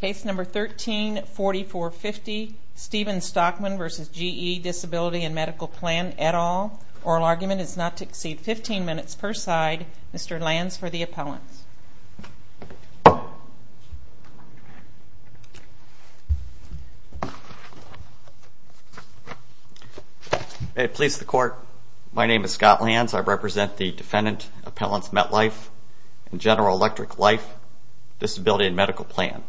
Case number 134450 Stephen Stockman v. GE Disability and Medical Plan, et al. Oral argument is not to exceed 15 minutes per side. Mr. Lanz for the appellants. May it please the court, my name is Scott Lanz. I represent the Defendant Appellants MetLife and General Electric Life Disability and Medical Plan.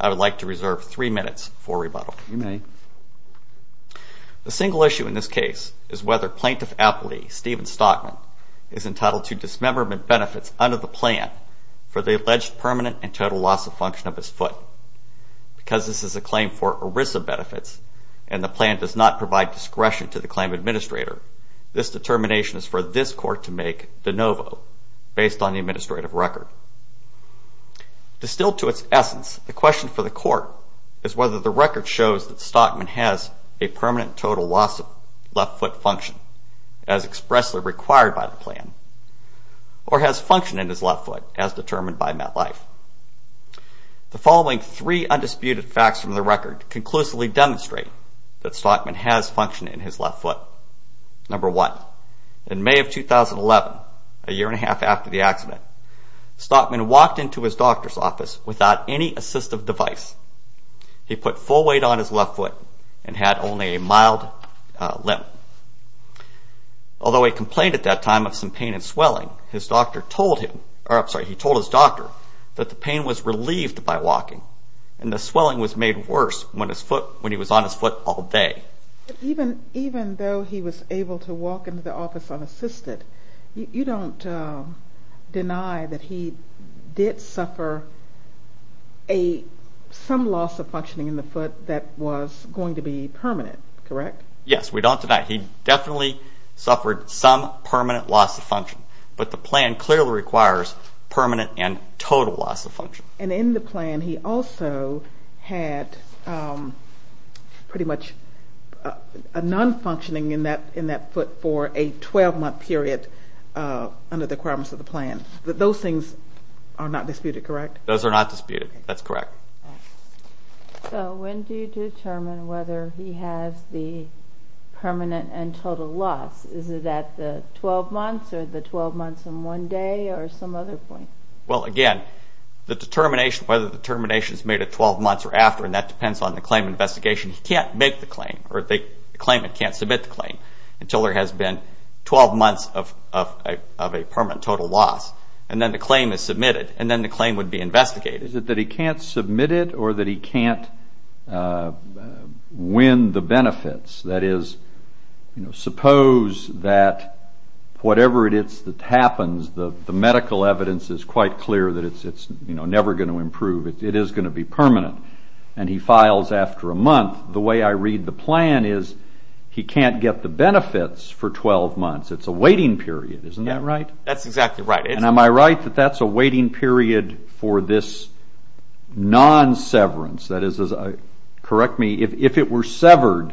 I would like to reserve three minutes for rebuttal. You may. The single issue in this case is whether Plaintiff Appellee Stephen Stockman is entitled to dismemberment benefits under the plan for the alleged permanent and total loss of function of his foot. Because this is a claim for ERISA benefits and the plan does not provide discretion to the claim administrator, this determination is for this court to make de novo based on the administrative record. Distilled to its essence, the question for the court is whether the record shows that Stockman has a permanent total loss of left foot function as expressly required by the plan or has function in his left foot as determined by MetLife. The following three undisputed facts from the record conclusively demonstrate that Stockman has function in his left foot. Number one, in May of 2011, a year and a half after the accident, Stockman walked into his doctor's office without any assistive device. He put full weight on his left foot and had only a mild limp. Although he complained at that time of some pain and swelling, he told his doctor that the pain was relieved by walking and the swelling was made worse when he was on his foot all day. Even though he was able to walk into the office unassisted, you don't deny that he did suffer some loss of functioning in the foot that was going to be permanent, correct? Yes, we don't deny it. He definitely suffered some permanent loss of function, and in the plan he also had pretty much a non-functioning in that foot for a 12-month period under the requirements of the plan. Those things are not disputed, correct? Those are not disputed, that's correct. So when do you determine whether he has the permanent and total loss? Is it at the 12 months or the 12 months and one day or some other point? Well, again, the determination, whether the determination is made at 12 months or after, and that depends on the claim investigation, he can't make the claim or the claimant can't submit the claim until there has been 12 months of a permanent total loss, and then the claim is submitted, and then the claim would be investigated. Is it that he can't submit it or that he can't win the benefits? That is, suppose that whatever it is that happens, the medical evidence is quite clear that it's never going to improve. It is going to be permanent, and he files after a month. The way I read the plan is he can't get the benefits for 12 months. It's a waiting period, isn't that right? That's exactly right. And am I right that that's a waiting period for this non-severance? That is, correct me, if it were severed,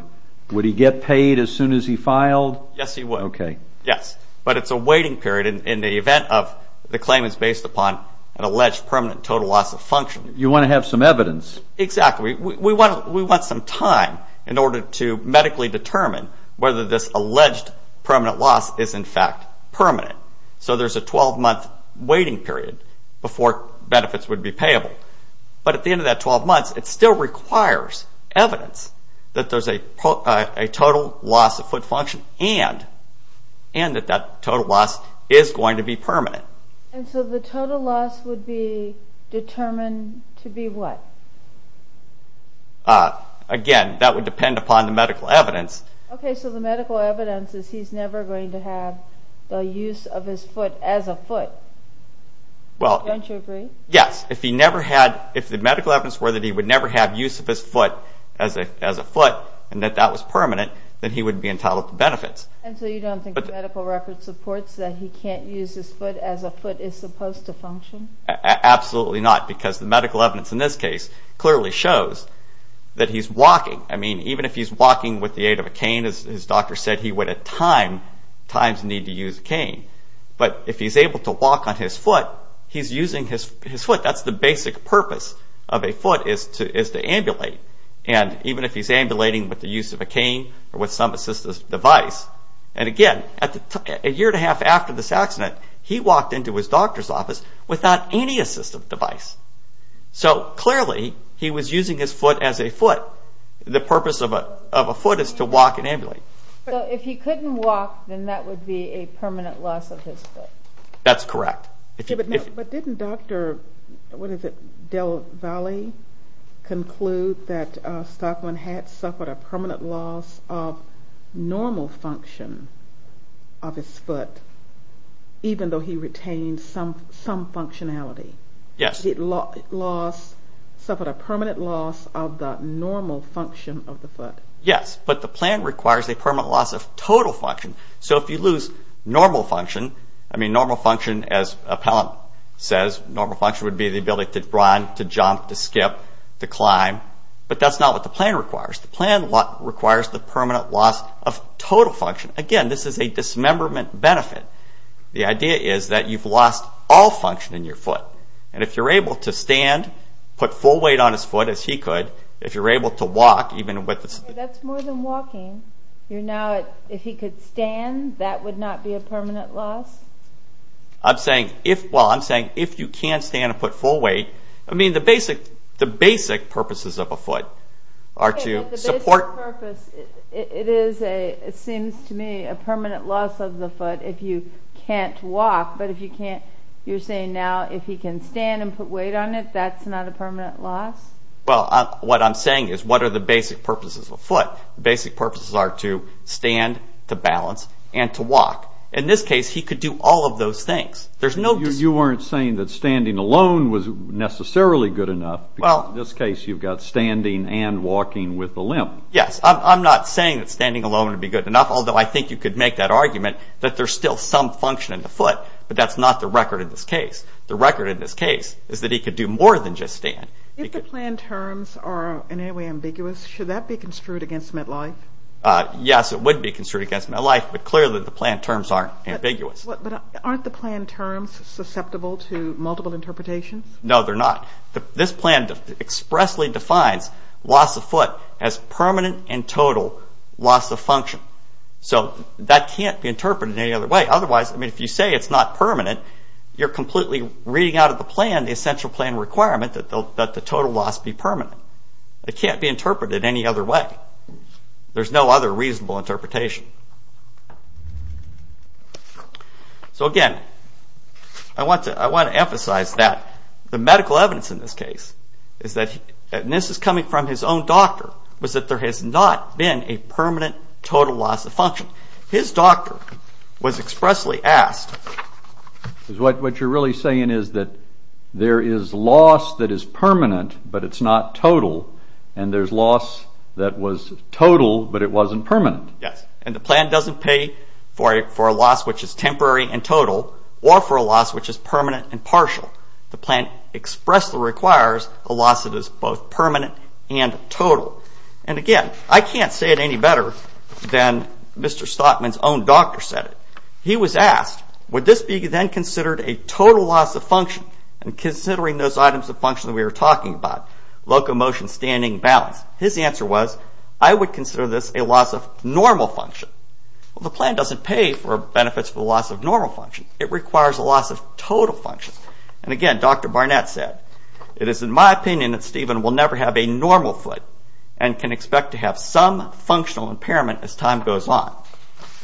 would he get paid as soon as he filed? Yes, he would. Okay. Yes, but it's a waiting period in the event of the claim is based upon an alleged permanent total loss of function. You want to have some evidence. Exactly. We want some time in order to medically determine whether this alleged permanent loss is, in fact, permanent. So there's a 12-month waiting period before benefits would be payable. But at the end of that 12 months, it still requires evidence that there's a total loss of foot function and that that total loss is going to be permanent. And so the total loss would be determined to be what? Again, that would depend upon the medical evidence. Okay, so the medical evidence is he's never going to have the use of his foot as a foot. Don't you agree? Yes. If the medical evidence were that he would never have use of his foot as a foot and that that was permanent, then he wouldn't be entitled to benefits. And so you don't think the medical record supports that he can't use his foot as a foot is supposed to function? Absolutely not, because the medical evidence in this case clearly shows that he's walking. I mean, even if he's walking with the aid of a cane, as his doctor said, he would at times need to use a cane. But if he's able to walk on his foot, he's using his foot. That's the basic purpose of a foot is to ambulate. And even if he's ambulating with the use of a cane or with some assistive device. And again, a year and a half after this accident, he walked into his doctor's office without any assistive device. So clearly, he was using his foot as a foot. The purpose of a foot is to walk and ambulate. So if he couldn't walk, then that would be a permanent loss of his foot? That's correct. But didn't Dr. Del Valle conclude that Stockman had suffered a permanent loss of normal function of his foot, even though he retained some functionality? Yes. He suffered a permanent loss of the normal function of the foot. Yes, but the plan requires a permanent loss of total function. So if you lose normal function, as Appellant says, normal function would be the ability to run, to jump, to skip, to climb. But that's not what the plan requires. The plan requires the permanent loss of total function. Again, this is a dismemberment benefit. The idea is that you've lost all function in your foot. And if you're able to stand, put full weight on his foot as he could, if you're able to walk, even with the... That's more than walking. If he could stand, that would not be a permanent loss? I'm saying if you can't stand and put full weight. I mean, the basic purposes of a foot are to support... The basic purpose, it seems to me, is a permanent loss of the foot if you can't walk. But you're saying now if he can stand and put weight on it, that's not a permanent loss? Well, what I'm saying is what are the basic purposes of a foot? The basic purposes are to stand, to balance, and to walk. In this case, he could do all of those things. You weren't saying that standing alone was necessarily good enough. In this case, you've got standing and walking with the limp. Yes, I'm not saying that standing alone would be good enough, although I think you could make that argument that there's still some function in the foot, but that's not the record in this case. The record in this case is that he could do more than just stand. If the plan terms are in any way ambiguous, should that be construed against MetLife? Yes, it would be construed against MetLife, but clearly the plan terms aren't ambiguous. But aren't the plan terms susceptible to multiple interpretations? No, they're not. This plan expressly defines loss of foot as permanent and total loss of function. So that can't be interpreted in any other way. Otherwise, I mean, if you say it's not permanent, you're completely reading out of the plan the essential plan requirement that the total loss be permanent. It can't be interpreted any other way. There's no other reasonable interpretation. So again, I want to emphasize that the medical evidence in this case is that, and this is coming from his own doctor, was that there has not been a permanent total loss of function. His doctor was expressly asked... What you're really saying is that there is loss that is permanent, but it's not total, and there's loss that was total, but it wasn't permanent. Yes, and the plan doesn't pay for a loss which is temporary and total or for a loss which is permanent and partial. The plan expressly requires a loss that is both permanent and total. And again, I can't say it any better than Mr. Stockman's own doctor said it. He was asked, would this be then considered a total loss of function and considering those items of function that we were talking about, locomotion, standing, balance. His answer was, I would consider this a loss of normal function. Well, the plan doesn't pay for benefits for loss of normal function. It requires a loss of total function. And again, Dr. Barnett said, it is in my opinion that Stephen will never have a normal foot and can expect to have some functional impairment as time goes on.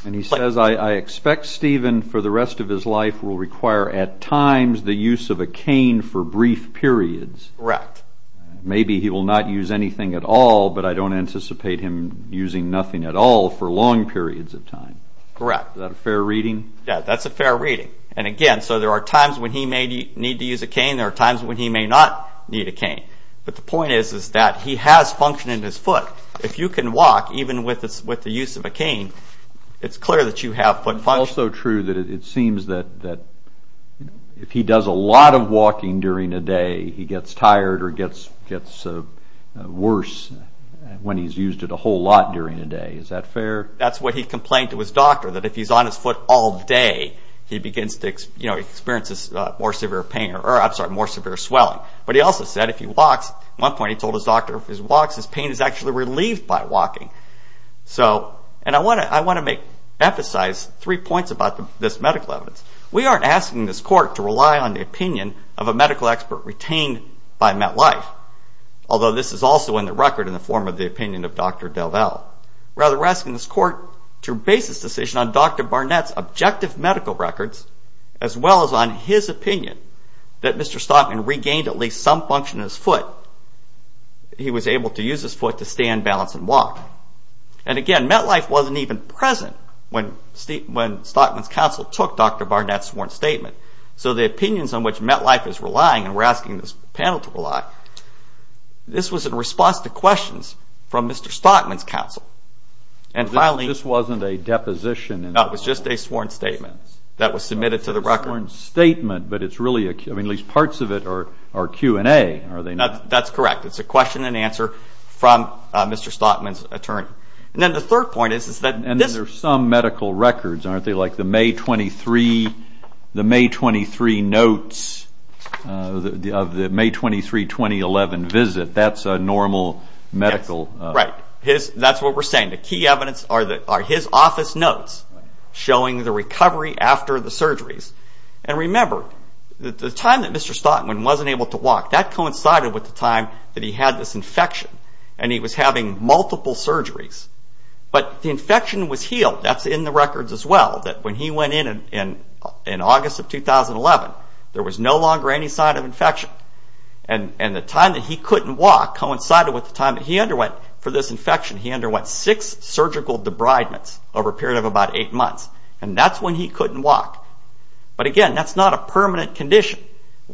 And he says, I expect Stephen for the rest of his life will require at times the use of a cane for brief periods. Correct. Maybe he will not use anything at all, but I don't anticipate him using nothing at all for long periods of time. Correct. Is that a fair reading? Yes, that's a fair reading. And again, so there are times when he may need to use a cane. There are times when he may not need a cane. But the point is that he has function in his foot. If you can walk, even with the use of a cane, it's clear that you have foot function. It's also true that it seems that if he does a lot of walking during a day, he gets tired or gets worse when he's used it a whole lot during a day. Is that fair? That's what he complained to his doctor, that if he's on his foot all day, he experiences more severe swelling. But he also said if he walks, at one point he told his doctor, if he walks, his pain is actually relieved by walking. And I want to emphasize three points about this medical evidence. We aren't asking this court to rely on the opinion of a medical expert retained by MetLife, although this is also in the record in the form of the opinion of Dr. DelVal. Rather, we're asking this court to base this decision on Dr. Barnett's objective medical records as well as on his opinion that Mr. Stockman regained at least some function in his foot. He was able to use his foot to stand, balance, and walk. And again, MetLife wasn't even present when Stockman's counsel took Dr. Barnett's sworn statement. So the opinions on which MetLife is relying, and we're asking this panel to rely, this was in response to questions from Mr. Stockman's counsel. This wasn't a deposition? No, it was just a sworn statement that was submitted to the record. It's a sworn statement, but at least parts of it are Q&A. That's correct. It's a question and answer from Mr. Stockman's attorney. And then the third point is that this... And these are some medical records, aren't they? Like the May 23 notes of the May 23, 2011 visit. That's a normal medical... Right. That's what we're saying. The key evidence are his office notes showing the recovery after the surgeries. And remember, the time that Mr. Stockman wasn't able to walk, that coincided with the time that he had this infection and he was having multiple surgeries. But the infection was healed. That's in the records as well, that when he went in in August of 2011, there was no longer any sign of infection. And the time that he couldn't walk coincided with the time that he underwent for this infection. He underwent six surgical debridements over a period of about eight months. And that's when he couldn't walk. But again, that's not a permanent condition.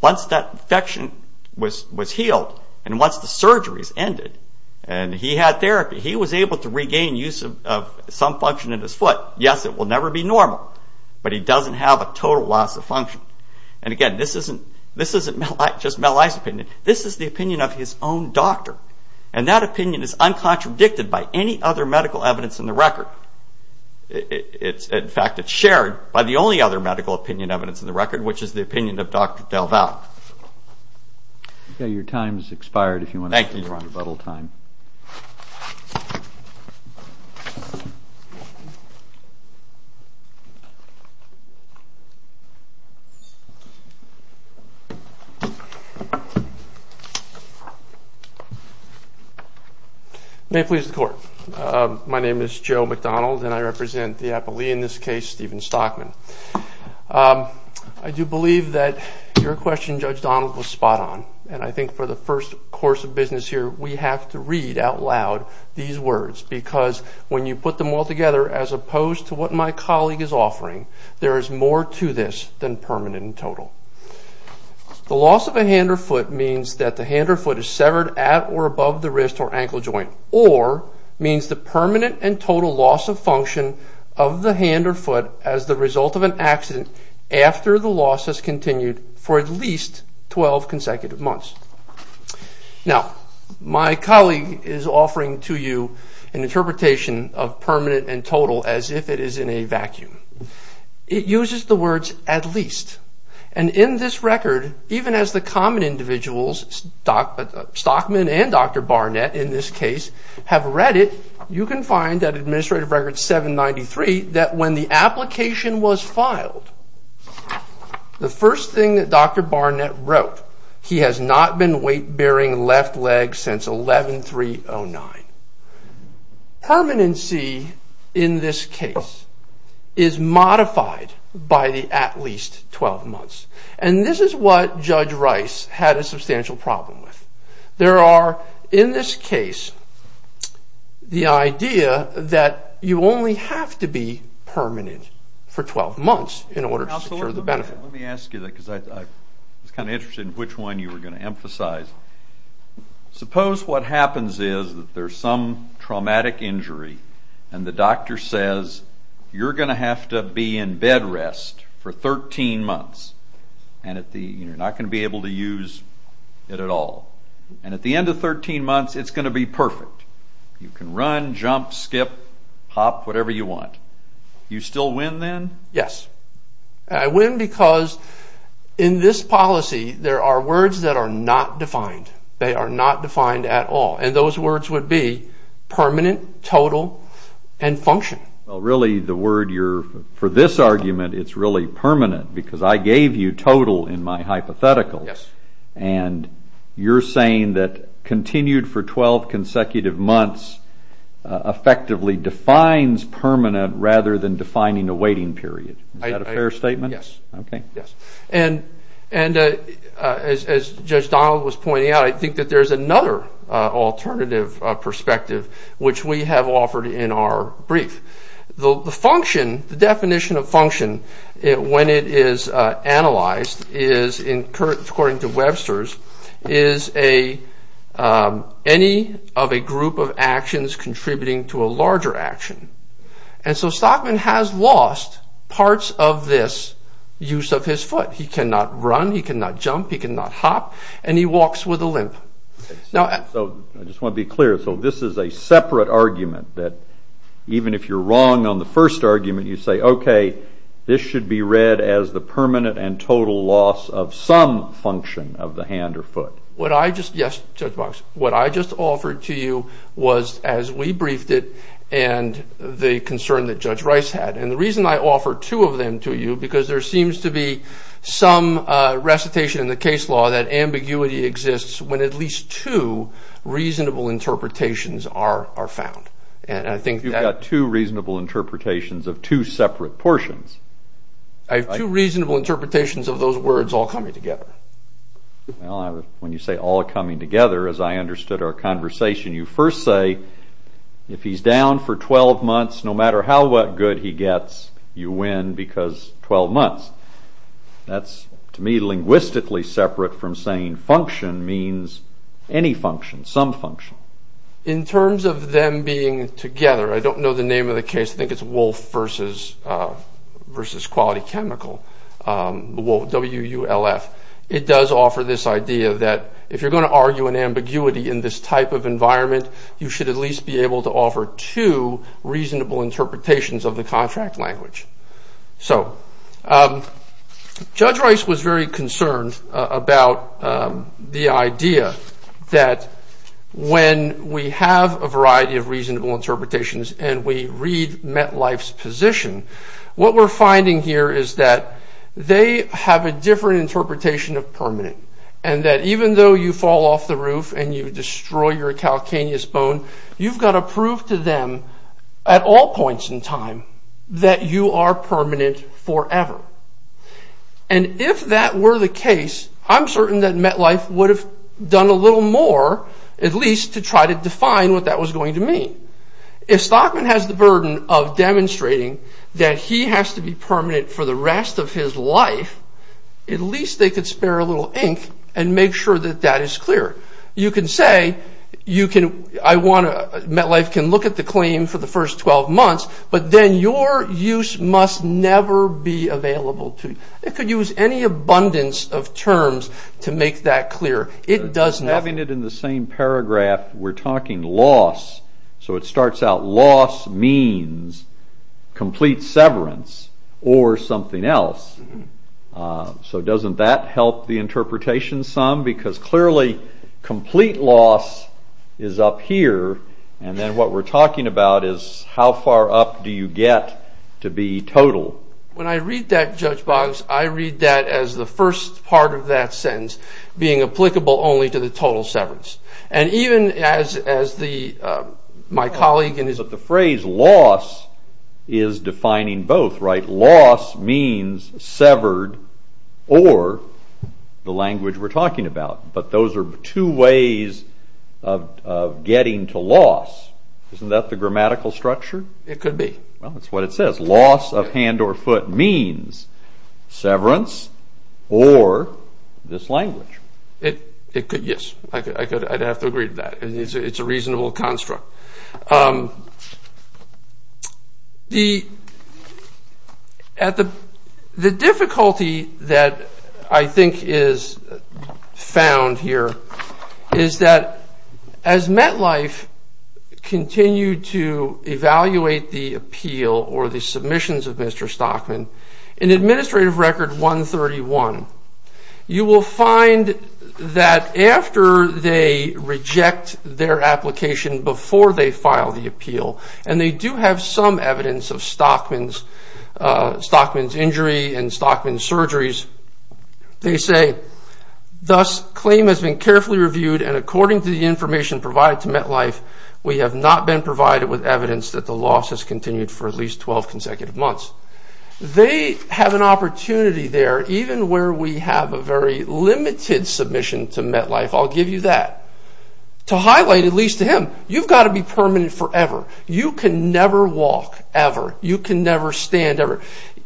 Once that infection was healed and once the surgeries ended and he had therapy, he was able to regain use of some function in his foot. Yes, it will never be normal, but he doesn't have a total loss of function. And again, this isn't just Meli's opinion. This is the opinion of his own doctor. And that opinion is uncontradicted by any other medical evidence in the record. In fact, it's shared by the only other medical opinion evidence in the record, which is the opinion of Dr. DelVal. Okay, your time has expired. Thank you. May it please the Court. My name is Joe McDonald and I represent the appellee in this case, Stephen Stockman. I do believe that your question, Judge Donald, was spot on. And I think for the first course of business here, we have to read out loud these words because when you put them all together, as opposed to what my colleague is offering, there is more to this than permanent and total. The loss of a hand or foot means that the hand or foot is severed at or above the wrist or ankle joint, or means the permanent and total loss of function of the hand or foot as the result of an accident after the loss has continued for at least 12 consecutive months. Now, my colleague is offering to you an interpretation of permanent and total as if it is in a vacuum. It uses the words at least. And in this record, even as the common individuals, Stockman and Dr. Barnett, in this case, have read it, you can find at Administrative Record 793 that when the application was filed, the first thing that Dr. Barnett wrote, he has not been weight-bearing left leg since 11-3-09. Permanency in this case is modified by the at least 12 months. And this is what Judge Rice had a substantial problem with. There are, in this case, the idea that you only have to be permanent for 12 months in order to secure the benefit. Let me ask you that because I was kind of interested in which one you were going to emphasize. Suppose what happens is that there is some traumatic injury and the doctor says, you're going to have to be in bed rest for 13 months and you're not going to be able to use it at all. And at the end of 13 months, it's going to be perfect. You can run, jump, skip, hop, whatever you want. Do you still win then? Yes. I win because in this policy, there are words that are not defined. They are not defined at all. And those words would be permanent, total, and function. Really, the word you're... For this argument, it's really permanent because I gave you total in my hypotheticals. And you're saying that continued for 12 consecutive months effectively defines permanent rather than defining a waiting period. Is that a fair statement? Yes. Okay. And as Judge Donald was pointing out, I think that there's another alternative perspective which we have offered in our brief. The definition of function, when it is analyzed, according to Webster's, is any of a group of actions contributing to a larger action. And so Stockman has lost parts of this use of his foot. He cannot run, he cannot jump, he cannot hop, and he walks with a limp. I just want to be clear. So this is a separate argument that, even if you're wrong on the first argument, you say, okay, this should be read as the permanent and total loss of some function of the hand or foot. What I just... Yes, Judge Box. What I just offered to you was, as we briefed it, and the concern that Judge Rice had. And the reason I offered two of them to you because there seems to be some recitation in the case law that ambiguity exists when at least two reasonable interpretations are found. And I think that... You've got two reasonable interpretations of two separate portions. I have two reasonable interpretations of those words all coming together. Well, when you say all coming together, as I understood our conversation, you first say, if he's down for 12 months, no matter how good he gets, you win because 12 months. That's, to me, linguistically separate from saying function means any function, some function. In terms of them being together, I don't know the name of the case. I think it's Wolf versus Quality Chemical, W-U-L-F. It does offer this idea that, if you're going to argue an ambiguity in this type of environment, you should at least be able to offer two reasonable interpretations of the contract language. So, Judge Rice was very concerned about the idea that when we have a variety of reasonable interpretations and we read MetLife's position, what we're finding here is that they have a different interpretation of permanent, and that even though you fall off the roof and you destroy your calcaneus bone, you've got to prove to them at all points in time that you are permanent forever. If that were the case, I'm certain that MetLife would have done a little more, at least to try to define what that was going to mean. If Stockman has the burden of demonstrating that he has to be permanent for the rest of his life, at least they could spare a little ink and make sure that that is clear. You can say, MetLife can look at the claim for the first 12 months, but then your use must never be available to them. They could use any abundance of terms to make that clear. It does nothing. Having it in the same paragraph, we're talking loss. So it starts out, loss means complete severance or something else. So doesn't that help the interpretation some? Because clearly, complete loss is up here, and then what we're talking about is how far up do you get to be total. When I read that, Judge Boggs, I read that as the first part of that sentence being applicable only to the total severance. And even as my colleague... But the phrase loss is defining both, right? Loss means severed or the language we're talking about. But those are two ways of getting to loss. Isn't that the grammatical structure? It could be. Well, that's what it says. Loss of hand or foot means severance or this language. Yes, I'd have to agree to that. It's a reasonable construct. The difficulty that I think is found here is that as MetLife continued to evaluate the appeal or the submissions of Mr. Stockman, in Administrative Record 131, you will find that after they reject their application before they file the appeal, and they do have some evidence of Stockman's injury and Stockman's surgeries, they say, thus claim has been carefully reviewed and according to the information provided to MetLife, we have not been provided with evidence that the loss has continued for at least 12 consecutive months. They have an opportunity there, even where we have a very limited submission to MetLife, I'll give you that, to highlight at least to him, you've got to be permanent forever. You can never walk ever. You can never stand ever.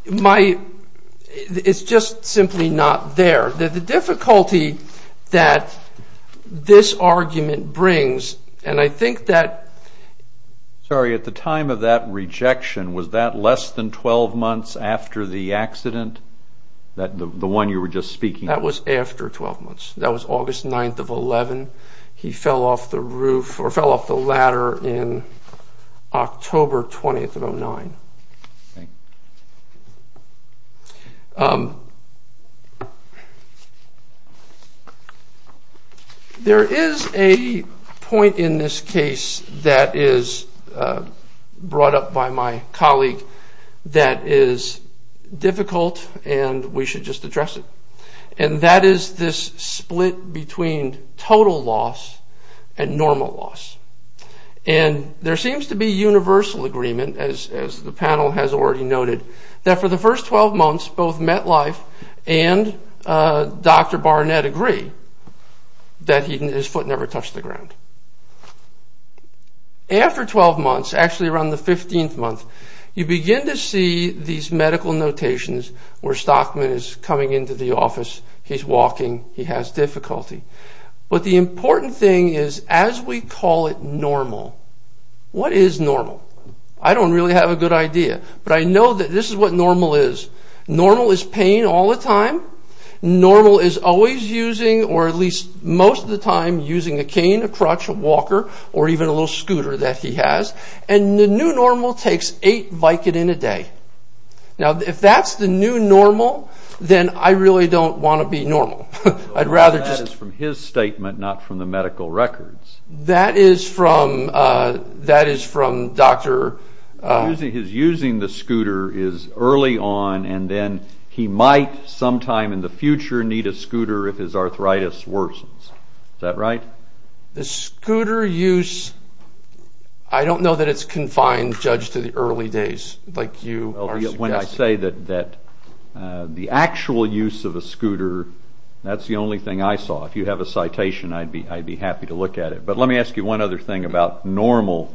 It's just simply not there. The difficulty that this argument brings, and I think that... Sorry, at the time of that rejection, was that less than 12 months after the accident, the one you were just speaking of? That was after 12 months. That was August 9th of 11. He fell off the roof, or fell off the ladder in October 20th of 09. Thank you. There is a point in this case that is brought up by my colleague that is difficult and we should just address it. And that is this split between total loss and normal loss. And there seems to be universal agreement as the panel has already noted, that for the first 12 months, both MetLife and Dr. Barnett agree that his foot never touched the ground. After 12 months, actually around the 15th month, you begin to see these medical notations where Stockman is coming into the office, he's walking, he has difficulty. But the important thing is as we call it normal, what is normal? I don't really have a good idea. But I know that this is what normal is. Normal is pain all the time. Normal is always using, or at least most of the time, using a cane, a crutch, a walker, or even a little scooter that he has. And the new normal takes eight Vicodin a day. Now if that's the new normal, then I really don't want to be normal. I'd rather just... That is from his statement, not from the medical records. That is from Dr. His using the scooter is early on, and then he might sometime in the future need a scooter if his arthritis worsens. Is that right? The scooter use, I don't know that it's confined, Judge, to the early days, like you are suggesting. When I say that the actual use of a scooter, that's the only thing I saw. If you have a citation, I'd be happy to look at it. But let me ask you one other thing about normal.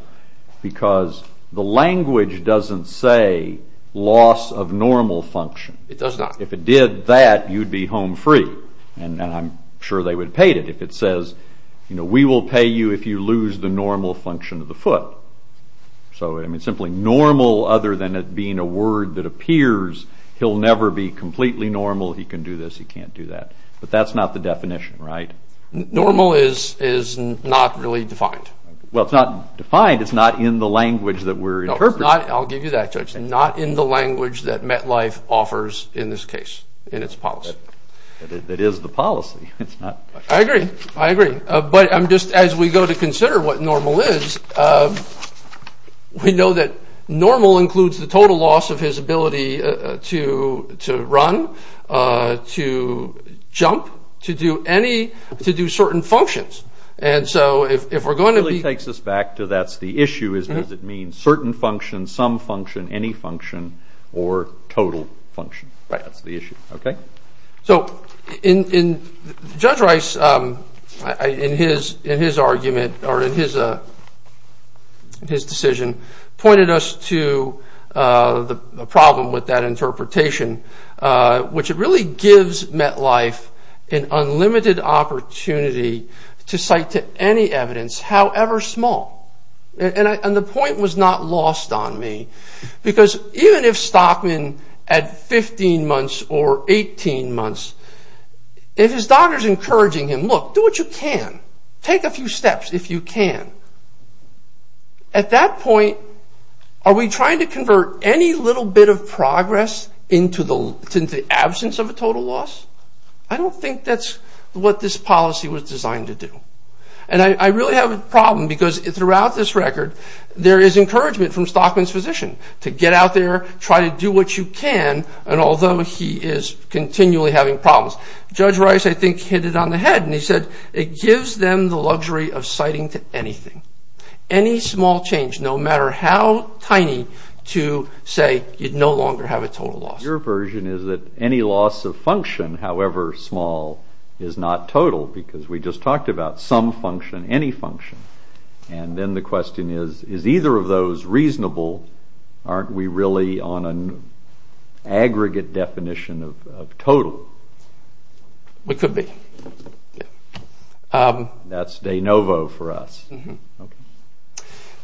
Because the language doesn't say loss of normal function. It does not. If it did that, you'd be home free. And I'm sure they would have paid it if it says, we will pay you if you lose the normal function of the foot. So simply normal, other than it being a word that appears, he'll never be completely normal, he can do this, he can't do that. But that's not the definition, right? Normal is not really defined. Well, it's not defined. It's not in the language that we're interpreting. No, it's not. I'll give you that, Judge. It's not in the language that MetLife offers in this case, in its policy. But it is the policy. I agree. I agree. But I'm just, as we go to consider what normal is, we know that normal includes the total loss of his ability to run, to jump, to do any, to do certain functions. And so if we're going to be... It really takes us back to that's the issue, is does it mean certain function, some function, any function, or total function? That's the issue. Okay? So Judge Rice, in his argument, or in his decision, pointed us to the problem with that interpretation, which it really gives MetLife an unlimited opportunity to cite to any evidence, however small. And the point was not lost on me, because even if Stockman at 15 months or 18 months, if his doctor's encouraging him, look, do what you can. Take a few steps if you can. At that point, are we trying to convert any little bit of progress into the absence of a total loss? I don't think that's what this policy was designed to do. And I really have a problem, because throughout this record, there is encouragement from Stockman's physician to get out there, try to do what you can, and although he is continually having problems. Judge Rice, I think, hit it on the head, and he said, it gives them the luxury of citing to anything. Any small change, no matter how tiny, to say you no longer have a total loss. Your version is that any loss of function, however small, is not total, because we just talked about some function, any function. And then the question is, is either of those reasonable? Aren't we really on an aggregate definition of total? We could be. That's de novo for us.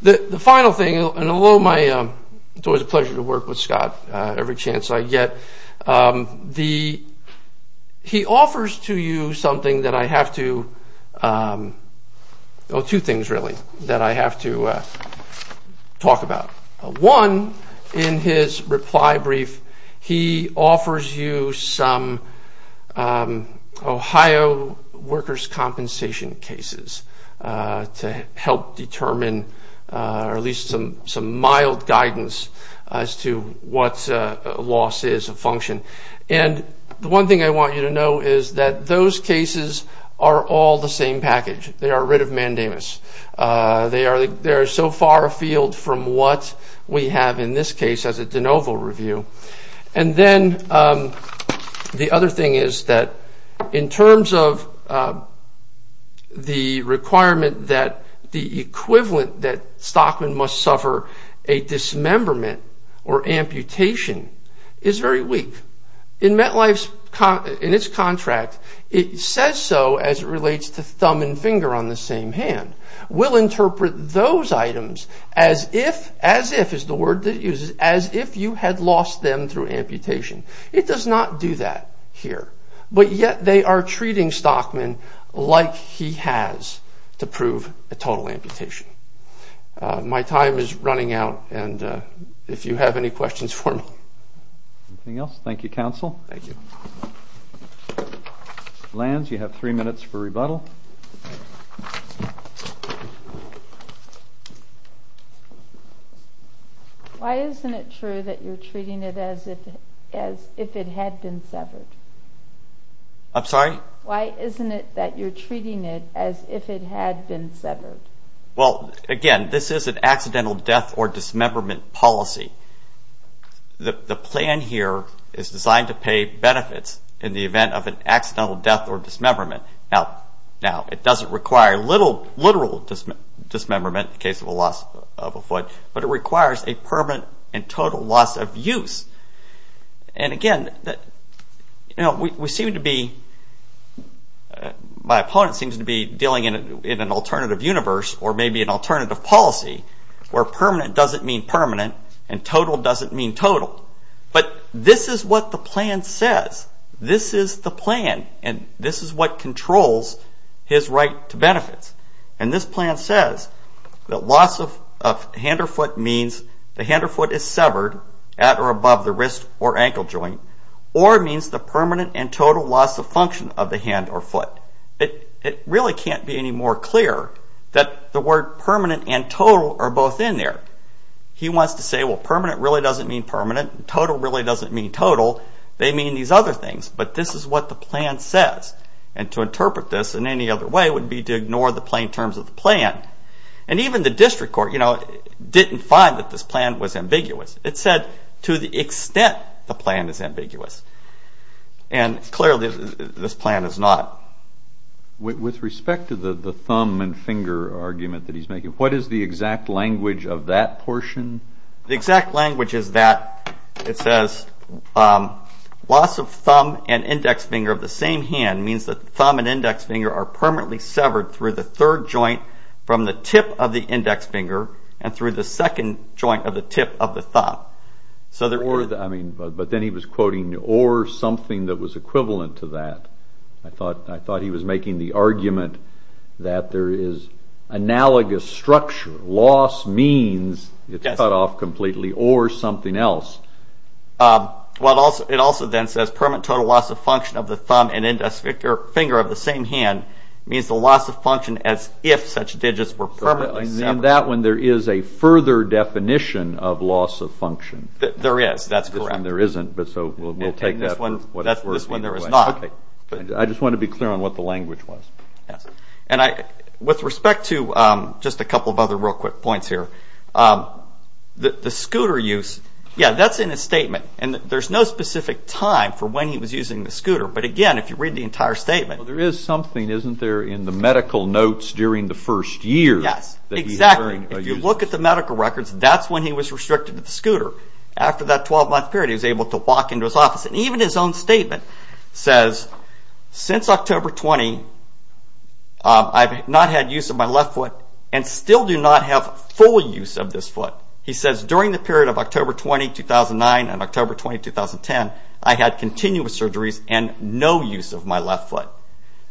The final thing, and although my, it's always a pleasure to work with Scott, every chance I get, he offers to you something that I have to, two things really, that I have to talk about. One, in his reply brief, he offers you some Ohio workers' compensation cases to help determine, or at least some mild guidance as to what loss is of function. And the one thing I want you to know is that those cases are all the same package. They are rid of mandamus. They are so far afield from what we have in this case as a de novo review. And then the other thing is that in terms of the requirement that the equivalent that or amputation is very weak. In MetLife's, in its contract, it says so as it relates to thumb and finger on the same hand. We'll interpret those items as if, as if is the word that he uses, as if you had lost them through amputation. It does not do that here. But yet they are treating Stockman like he has to prove a total amputation. My time is running out and if you have any questions for me. Anything else? Thank you, Counsel. Thank you. Lance, you have three minutes for rebuttal. Why isn't it true that you're treating it as if it had been severed? I'm sorry? Why isn't it that you're treating it as if it had been severed? Well, again, this is an accidental death or dismemberment policy. The plan here is designed to pay benefits in the event of an accidental death or dismemberment. Now, it doesn't require literal dismemberment in case of a loss of a foot, but it requires a permanent and total loss of use. Again, we seem to be, my opponent seems to be dealing in an alternative universe or maybe an alternative policy where permanent doesn't mean permanent and total doesn't mean total. But this is what the plan says. This is the plan and this is what controls his right to benefits. And this plan says that loss of hand or foot means the hand or foot is severed at or above the wrist or ankle joint or means the permanent and total loss of function of the hand or foot. It really can't be any more clear that the word permanent and total are both in there. He wants to say, well, permanent really doesn't mean permanent. Total really doesn't mean total. They mean these other things. But this is what the plan says. And to interpret this in any other way would be to ignore the plain terms of the plan. And even the district court didn't find that this plan was ambiguous. It said, to the extent the plan is ambiguous. And clearly, this plan is not. With respect to the thumb and finger argument that he's making, what is the exact language of that portion? The exact language is that it says, loss of thumb and index finger of the same hand means that thumb and index finger are permanently severed through the third joint from the tip of the index finger and through the second joint of the tip of the thumb. But then he was quoting or something that was equivalent to that. I thought he was making the argument that there is analogous structure. Loss means it's cut off completely or something else. It also then says, permanent total loss of function of the thumb and index finger of the same hand means the loss of function as if such digits were permanently severed. In that one, there is a further definition of loss of function. There is, that's correct. This one there isn't, so we'll take that. This one there is not. I just want to be clear on what the language was. With respect to just a couple of other real quick points here, the scooter use, that's in his statement. There's no specific time for when he was using the scooter. But again, if you read the entire statement. There is something, isn't there, in the medical notes during the first year. Yes, exactly. If you look at the medical records, that's when he was restricted to the scooter. After that 12 month period, he was able to walk into his office. Even his own statement says, since October 20, I've not had use of my left foot and still do not have full use of this foot. He says, during the period of October 20, 2009 and October 20, 2010, I had continuous surgeries and no use of my left foot.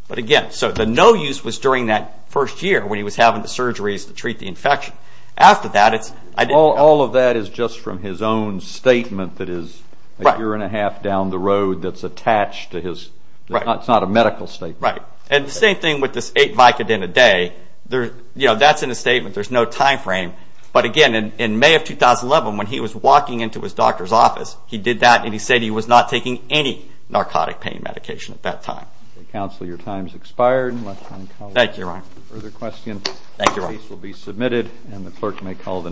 But again, so the no use was during that first year when he was having the surgeries to treat the infection. After that, all of that is just from his own statement that is a year and a half down the road that's attached to his, it's not a medical statement. Right. And the same thing with this 8 Vicodin a day, that's in a statement, there's no time frame. But again, in May of 2011, when he was walking into his doctor's office, he did that and he said he was not taking any narcotic pain medication at that time. Counsel, Thank you, Ron. Further questions? Thank you, Ron. The case will be submitted and the clerk may call the next hearing.